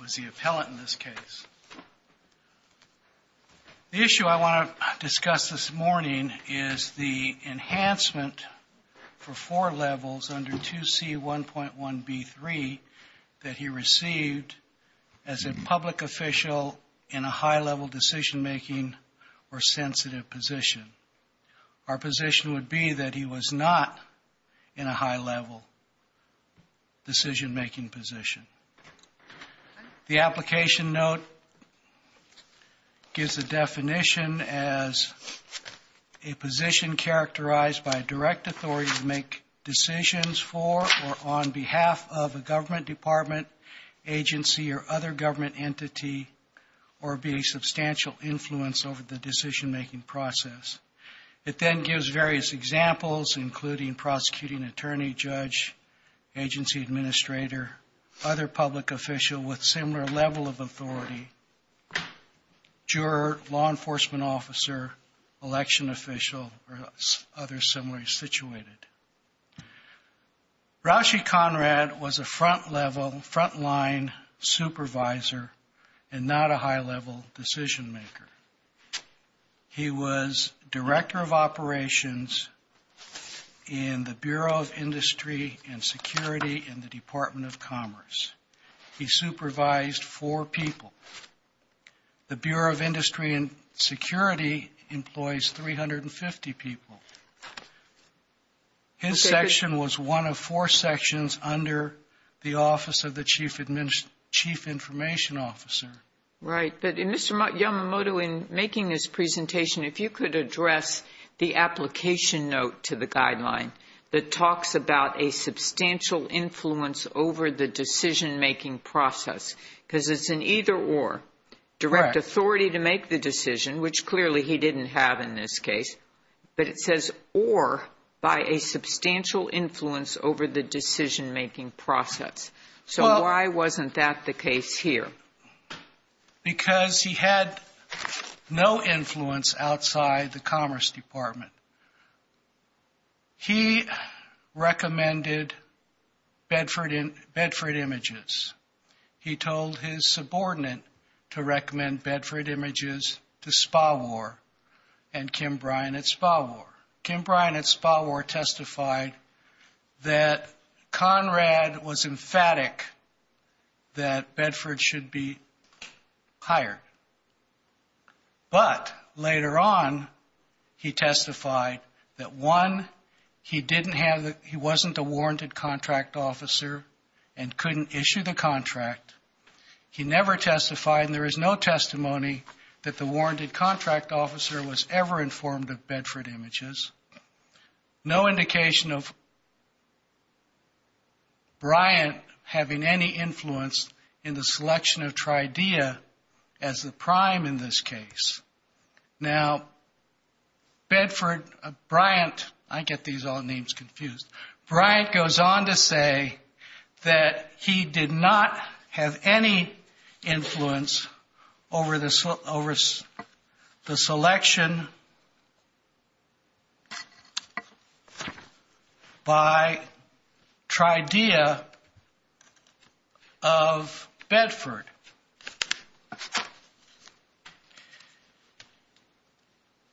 was the appellant in this case. The issue I want to discuss this morning is the enhancement for four levels under 2C1.1b3 that he received as a public official in a high-level decision-making or decision-making position. The application note gives a definition as a position characterized by a direct authority to make decisions for or on behalf of a government department, agency, or other government entity, or be a substantial influence over the agency administrator, other public official with similar level of authority, juror, law enforcement officer, election official, or others similarly situated. Raushi Conrad was a front-level, front-line supervisor and not a high-level decision-maker. He was of Commerce. He supervised four people. The Bureau of Industry and Security employs 350 people. His section was one of four sections under the Office of the Chief Information Officer. Right, but Mr. Yamamoto, in making this presentation, if you could address the application note to the guideline that talks about a substantial influence over the decision-making process, because it's an either-or, direct authority to make the decision, which clearly he didn't have in this case, but it says or by a substantial influence over the decision-making process. So why wasn't that the case here? Because he had no influence outside the Commerce Department. He recommended Bedford Images. He told his subordinate to recommend Bedford Images. He told his subordinate that the award should be hired. But later on, he testified that, one, he didn't have the, he wasn't a warranted contract officer and couldn't issue the contract. He never testified, and there is no testimony that the warranted contract officer was ever informed of Bedford Images. No indication of Bryant having any influence in the selection of Tridea as the prime in this case. Now, Bedford, Bryant, I get these odd names confused. Bryant goes on to say that he did not have any influence over the selection by Tridea of Bedford.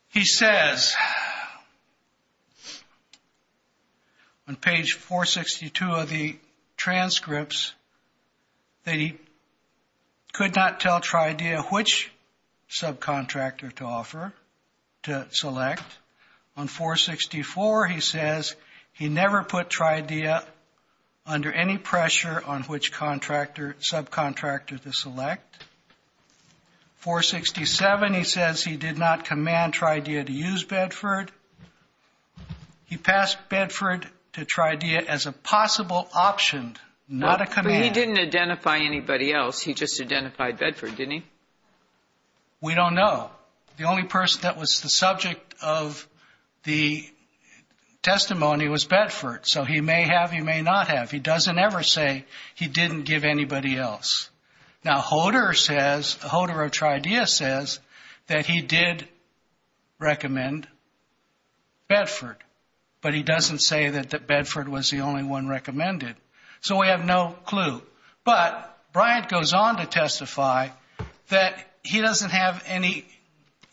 He says on page 462 of the transcripts that he could not tell Tridea which subcontractor to offer, to select. On 464, he says he never put Tridea under any pressure on which contractor, subcontractor to select. 467, he says he did not command Tridea to use Bedford. He passed Bedford to Tridea as a possible option, not a command. But he didn't identify anybody else. He just identified Bedford, didn't he? We don't know. The only person that was the subject of the testimony was Bedford, so he may have, he may not have. He doesn't ever say he didn't give anybody else. Now, Hoder says, Hoder of Tridea says that he did recommend Bedford, but he doesn't say that Bedford was the only one recommended. So we have no clue. But Bryant goes on to testify that he doesn't have any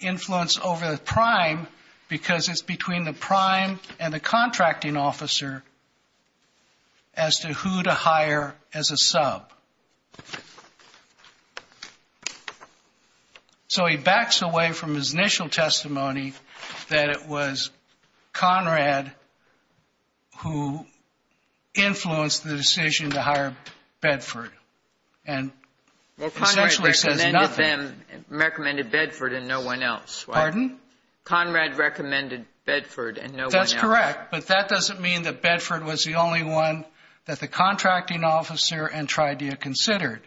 influence over the prime because it's between the prime and the contracting officer as to who to hire as a sub. So he backs away from his initial testimony that it was Conrad who influenced the decision to hire Bedford and essentially says nothing. Well, Conrad recommended Bedford and no one else, right? Pardon? Conrad recommended Bedford and no one else. That's correct, but that doesn't mean that Bedford was the only one that the contracting officer and Tridea considered.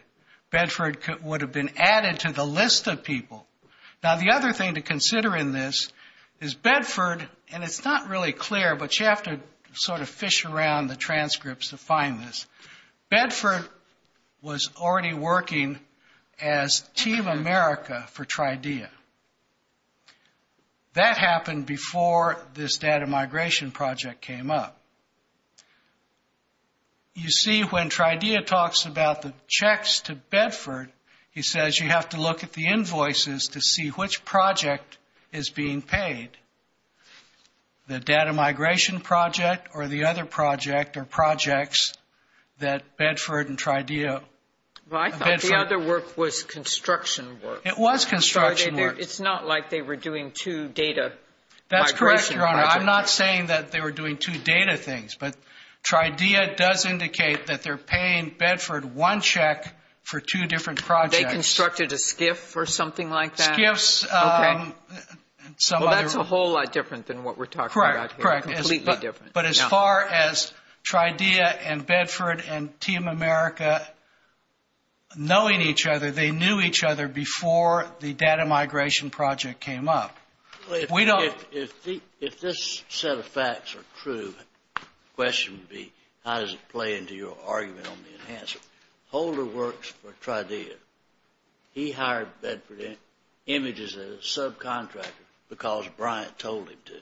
Bedford would have been added to the list of people. Now, the other thing to consider in this is Bedford, and it's not really clear, but you have to sort of fish around the transcripts to find this. Bedford was already working as Team America for Tridea. That happened before this data migration project came up. You see when Tridea talks about the checks to Bedford, he says you have to look at the invoices to see which project is being paid. The data migration project or the other project or projects that Bedford and Tridea. Well, I thought the other work was construction work. It was construction work. It's not like they were doing two data migration projects. That's correct, Your Honor. I'm not saying that they were doing two data things, but Tridea does indicate that they're paying Bedford one check for two different projects. They constructed a SCIF or something like that? Well, that's a whole lot different than what we're talking about here. Correct. Completely different. But as far as Tridea and Bedford and Team America knowing each other, they knew each other before the data migration project came up. If this set of facts are true, the question would be how does it play into your argument on the enhancer? Holder works for Tridea. He hired Bedford Images as a subcontractor because Bryant told him to.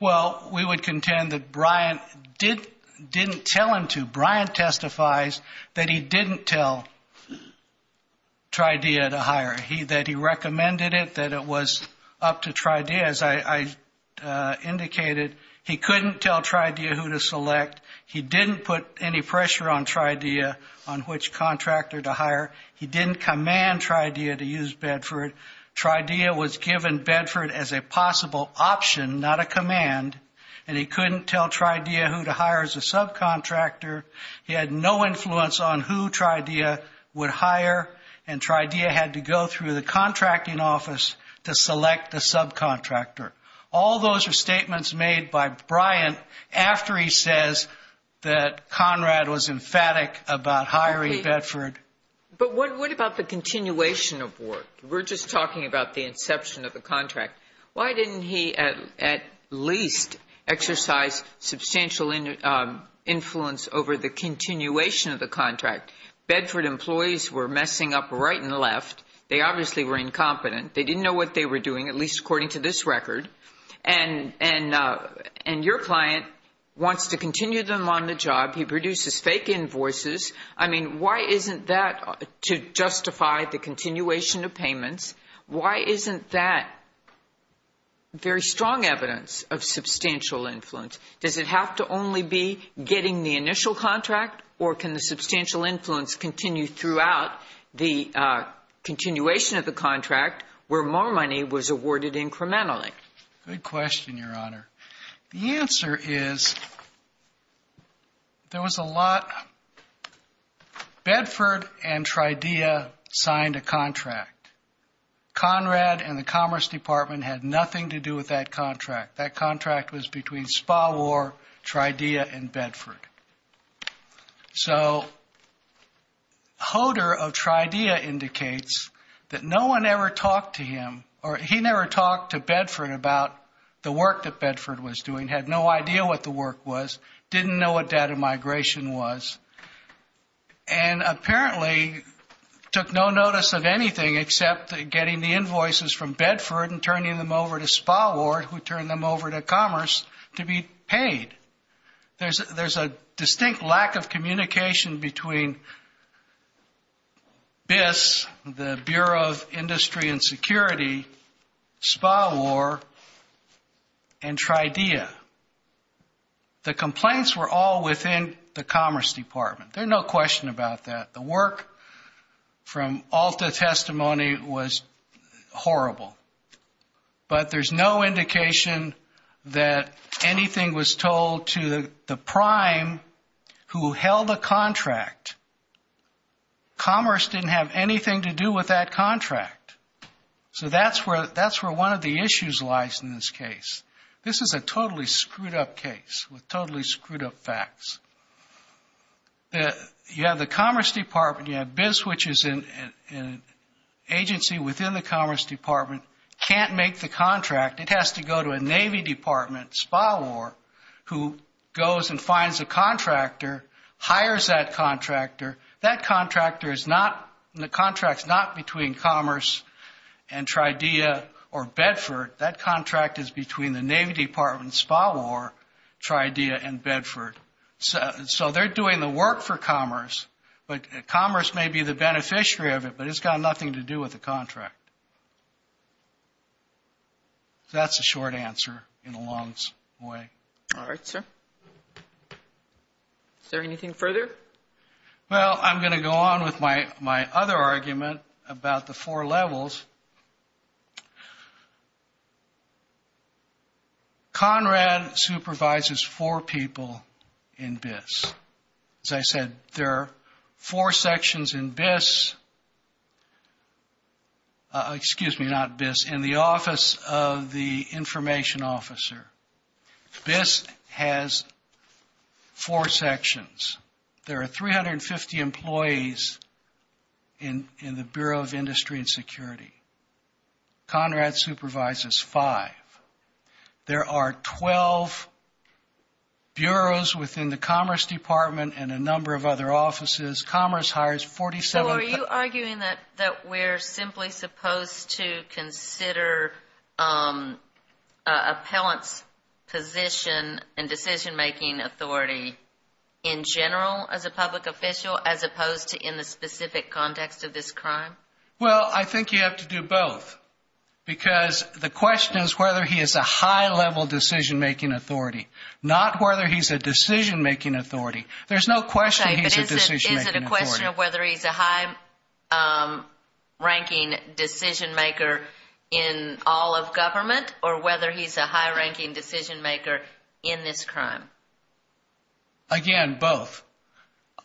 Well, we would contend that Bryant didn't tell him to. Bryant testifies that he didn't tell Tridea to hire him, that he recommended it, that it was up to Tridea. As I indicated, he couldn't tell Tridea who to select. He didn't put any pressure on Tridea on which contractor to hire. He didn't command Tridea to use Bedford. Tridea was given Bedford as a possible option, not a command, and he couldn't tell Tridea who to hire as a subcontractor. He had no influence on who Tridea would hire, and Tridea had to go through the contracting office to select the subcontractor. All those are statements made by Bryant after he says that Conrad was emphatic about hiring Bedford. But what about the continuation of work? We're just talking about the inception of the contract. Why didn't he at least exercise substantial influence over the continuation of the contract? Bedford employees were messing up right and left. They obviously were incompetent. They didn't know what they were doing, at least according to this record, and your client wants to continue them on the job. He produces fake invoices. I mean, why isn't that to justify the continuation of payments? Why isn't that very strong evidence of substantial influence? Does it have to only be getting the initial contract, or can the substantial influence continue throughout the continuation of the contract where more money was awarded incrementally? Good question, Your Honor. The answer is there was a lot. Bedford and Tridea signed a contract. Conrad and the Commerce Department had nothing to do with that contract. That contract was between Spaward, Tridea, and Bedford. So Hoder of Tridea indicates that no one ever talked to him, or he never talked to Bedford about the work that Bedford was doing, had no idea what the work was, didn't know what data migration was, and apparently took no notice of anything except getting the invoices from Bedford and turning them over to Spaward, who turned them over to Commerce, to be paid. There's a distinct lack of communication between BIS, the Bureau of Industry and Security, Spaward, and Tridea. The complaints were all within the Commerce Department. There's no question about that. The work from Alta testimony was horrible. But there's no indication that anything was told to the prime who held the contract. Commerce didn't have anything to do with that contract. So that's where one of the issues lies in this case. This is a totally screwed-up case with totally screwed-up facts. You have the Commerce Department, you have BIS, which is an agency within the Commerce Department, can't make the contract. It has to go to a Navy department, Spaward, who goes and finds a contractor, hires that contractor. That contractor is not – the contract's not between Commerce and Tridea or Bedford. That contract is between the Navy department, Spaward, Tridea, and Bedford. So they're doing the work for Commerce, but Commerce may be the beneficiary of it, but it's got nothing to do with the contract. That's a short answer in a long way. All right, sir. Is there anything further? Well, I'm going to go on with my other argument about the four levels. Conrad supervises four people in BIS. As I said, there are four sections in BIS – excuse me, not BIS – in the Office of the Information Officer. BIS has four sections. There are 350 employees in the Bureau of Industry and Security. Conrad supervises five. There are 12 bureaus within the Commerce Department and a number of other offices. So are you arguing that we're simply supposed to consider an appellant's position and decision-making authority in general as a public official as opposed to in the specific context of this crime? Well, I think you have to do both because the question is whether he is a high-level decision-making authority, not whether he's a decision-making authority. There's no question he's a decision-making authority. Okay, but is it a question of whether he's a high-ranking decision-maker in all of government or whether he's a high-ranking decision-maker in this crime? Again, both.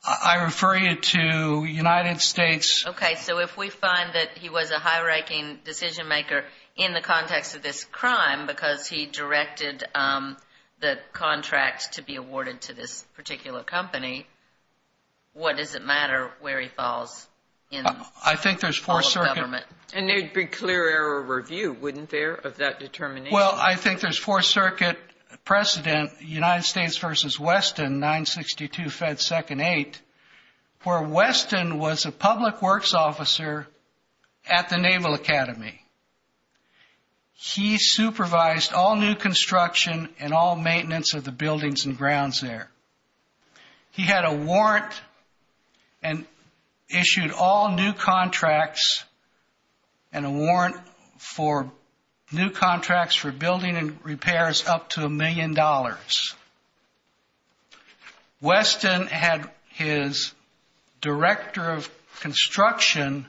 I refer you to the United States. Okay, so if we find that he was a high-ranking decision-maker in the context of this crime because he directed the contract to be awarded to this particular company, what does it matter where he falls in all of government? And there would be clear error of review, wouldn't there, of that determination? Well, I think there's Fourth Circuit precedent, United States v. Weston, 962 Fed 2nd 8th, where Weston was a public works officer at the Naval Academy. He supervised all new construction and all maintenance of the buildings and grounds there. He had a warrant and issued all new contracts and a warrant for new contracts for building and repairs up to a million dollars. Weston had his director of construction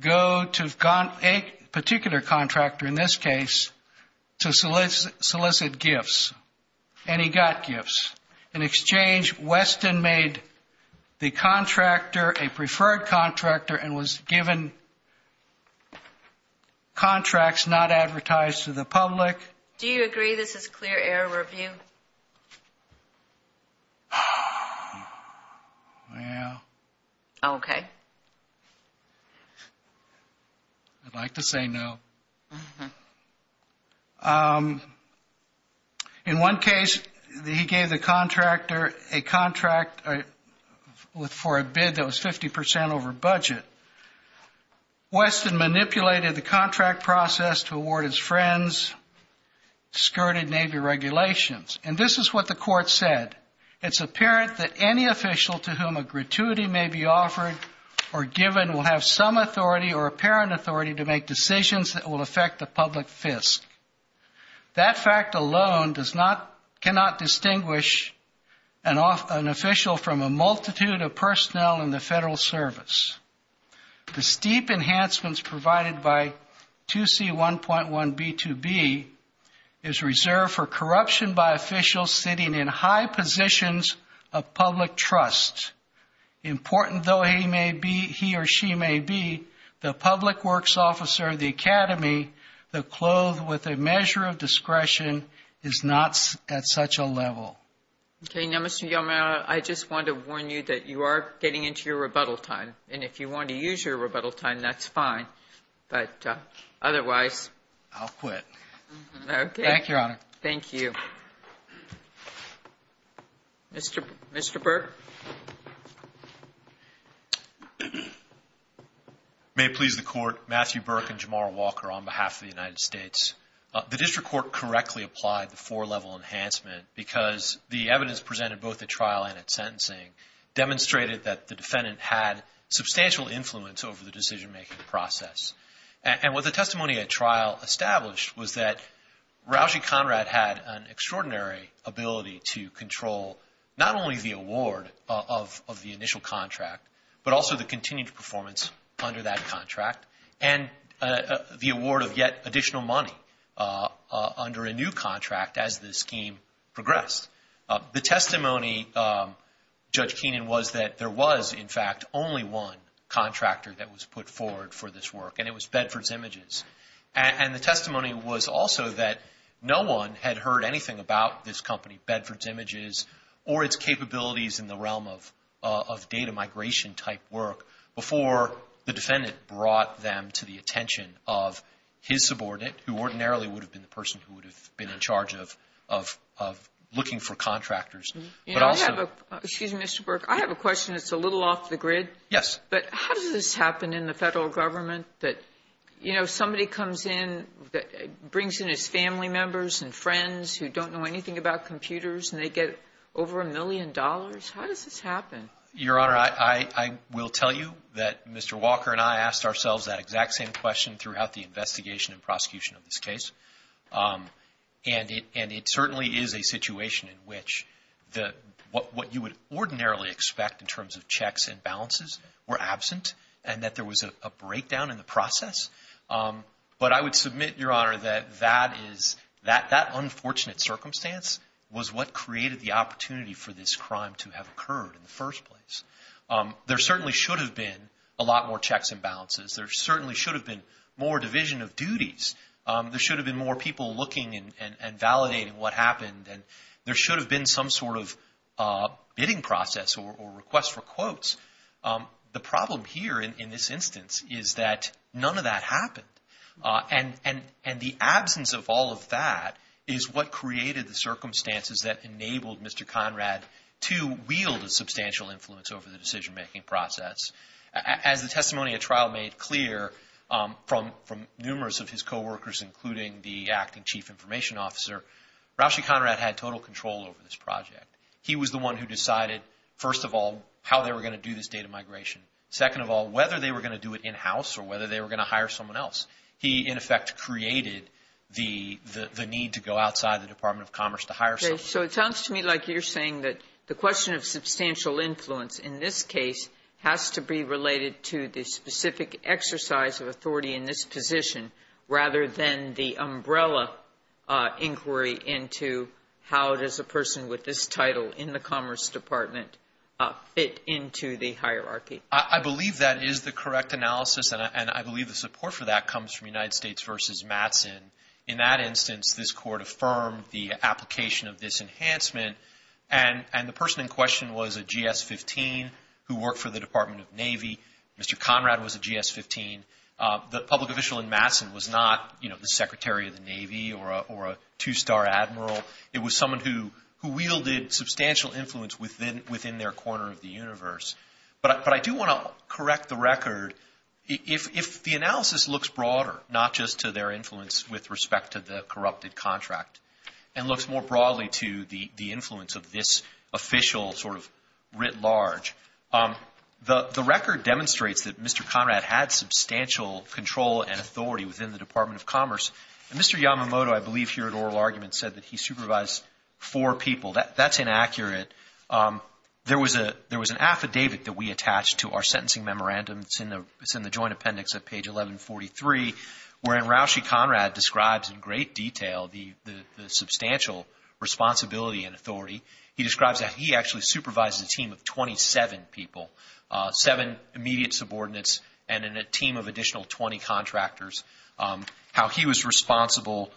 go to a particular contractor, in this case, to solicit gifts, and he got gifts. In exchange, Weston made the contractor a preferred contractor and was given contracts not advertised to the public. Do you agree this is clear error of review? Well... Okay. I'd like to say no. In one case, he gave the contractor a contract for a bid that was 50 percent over budget. Weston manipulated the contract process to award his friends skirted Navy regulations. And this is what the court said. It's apparent that any official to whom a gratuity may be offered or given will have some authority or apparent authority to make decisions that will affect the public fisc. That fact alone cannot distinguish an official from a multitude of personnel in the Federal Service. The steep enhancements provided by 2C1.1B2B is reserved for corruption by officials sitting in high positions of public trust. Important though he or she may be, the public works officer of the Academy, the clothe with a measure of discretion, is not at such a level. Okay. Now, Mr. Yalmira, I just want to warn you that you are getting into your rebuttal time. And if you want to use your rebuttal time, that's fine. But otherwise... I'll quit. Okay. Thank you, Your Honor. Thank you. Thank you. Mr. Burke. May it please the Court, Matthew Burke and Jamar Walker on behalf of the United States. The district court correctly applied the four-level enhancement because the evidence presented both at trial and at sentencing demonstrated that the defendant had substantial influence over the decision-making process. And what the testimony at trial established was that Rauji Conrad had an extraordinary ability to control not only the award of the initial contract, but also the continued performance under that contract, and the award of yet additional money under a new contract as the scheme progressed. The testimony, Judge Keenan, was that there was, in fact, only one contractor that was put forward for this work, and it was Bedford's Images. And the testimony was also that no one had heard anything about this company, Bedford's Images, or its capabilities in the realm of data migration-type work, before the defendant brought them to the attention of his subordinate, who ordinarily would have been the person who would have been in charge of looking for contractors. But also- Excuse me, Mr. Burke. I have a question that's a little off the grid. Yes. But how does this happen in the Federal government that, you know, somebody comes in, brings in his family members and friends who don't know anything about computers, and they get over a million dollars? How does this happen? Your Honor, I will tell you that Mr. Walker and I asked ourselves that exact same question throughout the investigation and prosecution of this case. And it certainly is a situation in which what you would ordinarily expect in terms of checks and balances were absent, and that there was a breakdown in the process. But I would submit, Your Honor, that that unfortunate circumstance was what created the opportunity for this crime to have occurred in the first place. There certainly should have been a lot more checks and balances. There certainly should have been more division of duties. There should have been more people looking and validating what happened. And there should have been some sort of bidding process or request for quotes. The problem here in this instance is that none of that happened. And the absence of all of that is what created the circumstances that enabled Mr. Conrad to wield a substantial influence over the decision-making process. As the testimony at trial made clear from numerous of his coworkers, including the acting chief information officer, Rashi Conrad had total control over this project. He was the one who decided, first of all, how they were going to do this data migration. Second of all, whether they were going to do it in-house or whether they were going to hire someone else. He, in effect, created the need to go outside the Department of Commerce to hire someone else. So it sounds to me like you're saying that the question of substantial influence in this case has to be related to the specific exercise of authority in this position, rather than the umbrella inquiry into how does a person with this title in the Commerce Department fit into the hierarchy. I believe that is the correct analysis, and I believe the support for that comes from United States v. Mattson. In that instance, this Court affirmed the application of this enhancement, and the person in question was a GS-15 who worked for the Department of Navy. Mr. Conrad was a GS-15. The public official in Mattson was not the Secretary of the Navy or a two-star admiral. It was someone who wielded substantial influence within their corner of the universe. But I do want to correct the record. If the analysis looks broader, not just to their influence with respect to the corrupted contract, and looks more broadly to the influence of this official sort of writ large, the record demonstrates that Mr. Conrad had substantial control and authority within the Department of Commerce. And Mr. Yamamoto, I believe here at oral argument, said that he supervised four people. That's inaccurate. There was an affidavit that we attached to our sentencing memorandum. It's in the Joint Appendix at page 1143, wherein Roushey Conrad describes in great detail the substantial responsibility and authority. He describes that he actually supervises a team of 27 people, seven immediate subordinates, and a team of additional 20 contractors, how he was responsible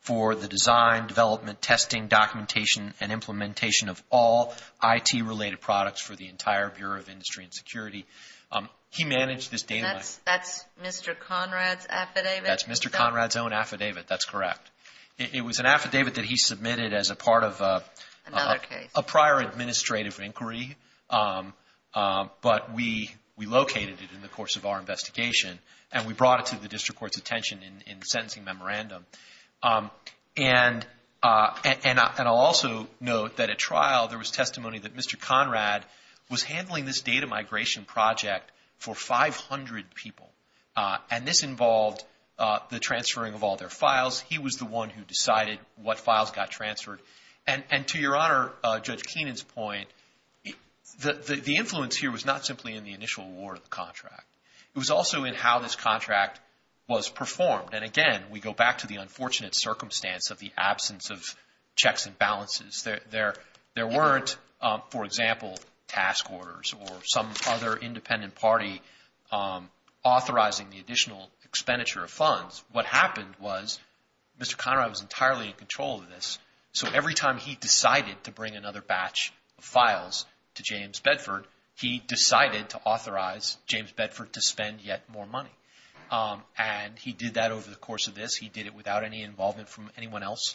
for the design, development, testing, documentation, and implementation of all IT-related products for the entire Bureau of Industry and Security. He managed this data. That's Mr. Conrad's affidavit? That's Mr. Conrad's own affidavit. That's correct. It was an affidavit that he submitted as a part of a prior administrative inquiry, but we located it in the course of our investigation, and we brought it to the district court's attention in the sentencing memorandum. And I'll also note that at trial there was testimony that Mr. Conrad was handling this data migration project for 500 people, and this involved the transferring of all their files. He was the one who decided what files got transferred. And to Your Honor, Judge Keenan's point, the influence here was not simply in the initial award of the contract. It was also in how this contract was performed. And, again, we go back to the unfortunate circumstance of the absence of checks and balances. There weren't, for example, task orders or some other independent party authorizing the additional expenditure of funds. What happened was Mr. Conrad was entirely in control of this, so every time he decided to bring another batch of files to James Bedford, he decided to authorize James Bedford to spend yet more money. And he did that over the course of this. He did it without any involvement from anyone else.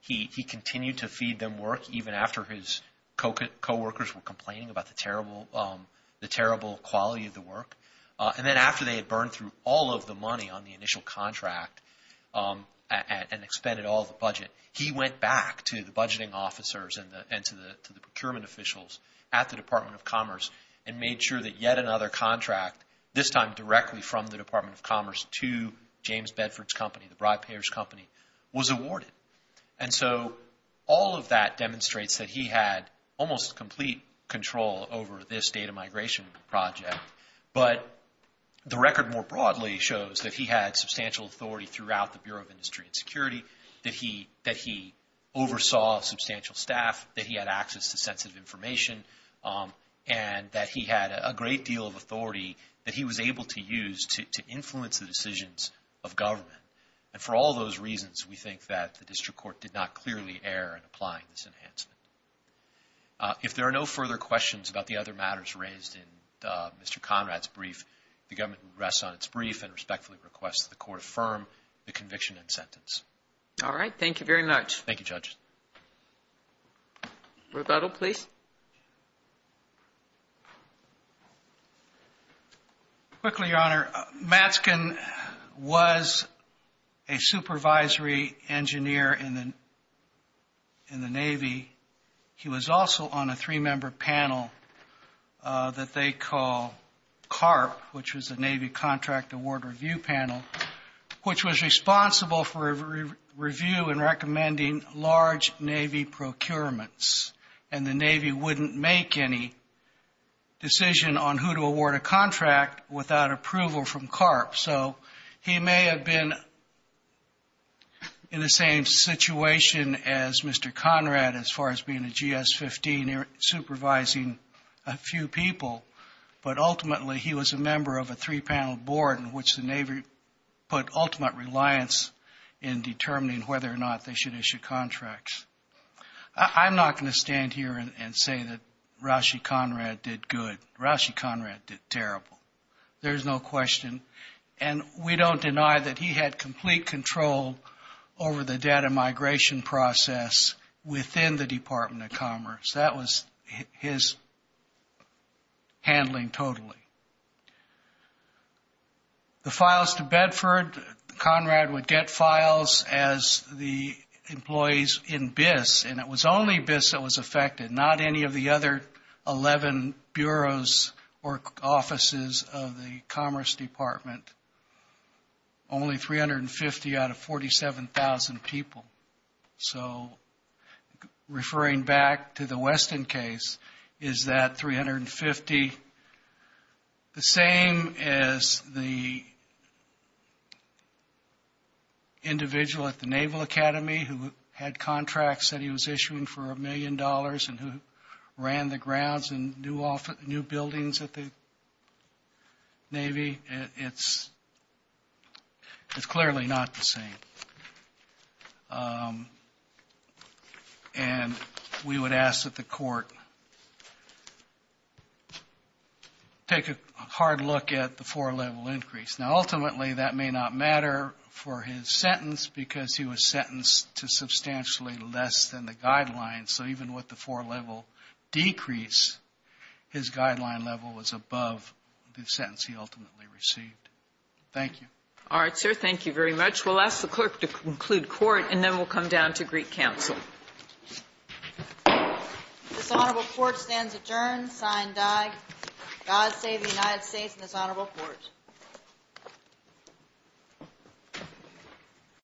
He continued to feed them work even after his coworkers were complaining about the terrible quality of the work. And then after they had burned through all of the money on the initial contract and expended all of the budget, he went back to the budgeting officers and to the procurement officials at the Department of Commerce and made sure that yet another contract, this time directly from the Department of Commerce to James Bedford's company, the bribe payers' company, was awarded. And so all of that demonstrates that he had almost complete control over this data migration project. But the record more broadly shows that he had substantial authority throughout the Bureau of Industry and Security, that he oversaw substantial staff, that he had access to sensitive information, and that he had a great deal of authority that he was able to use to influence the decisions of government. And for all those reasons, we think that the district court did not clearly err in applying this enhancement. If there are no further questions about the other matters raised in Mr. Conrad's brief, the government rests on its brief and respectfully requests that the court affirm the conviction and sentence. All right. Thank you very much. Thank you, Judge. Rebuttal, please. Quickly, Your Honor, Matsken was a supervisory engineer in the Navy. He was also on a three-member panel that they call CARP, which was the Navy Contract Award Review Panel, which was responsible for review and recommending large Navy procurements. And the Navy wouldn't make any decision on who to award a contract without approval from CARP. So he may have been in the same situation as Mr. Conrad as far as being a GS-15 supervising a few people, but ultimately he was a member of a three-panel board in which the Navy put ultimate reliance in determining whether or not they should issue contracts. I'm not going to stand here and say that Rashi Conrad did good. Rashi Conrad did terrible. There's no question. And we don't deny that he had complete control over the data migration process within the Department of Commerce. That was his handling totally. The files to Bedford, Conrad would get files as the employees in BIS, and it was only BIS that was affected, not any of the other 11 bureaus or offices of the Commerce Department, only 350 out of 47,000 people. So referring back to the Weston case, is that 350 the same as the individual at the Naval Academy who had contracts that he was issuing for a million dollars and who ran the grounds and new buildings at the Navy? It's clearly not the same. And we would ask that the court take a hard look at the four-level increase. Now, ultimately, that may not matter for his sentence because he was sentenced to substantially less than the guidelines. So even with the four-level decrease, his guideline level was above the sentence he ultimately received. Thank you. All right, sir. Thank you very much. We'll ask the clerk to conclude court, and then we'll come down to Greek counsel. This honorable court stands adjourned, sign die. God save the United States and this honorable court.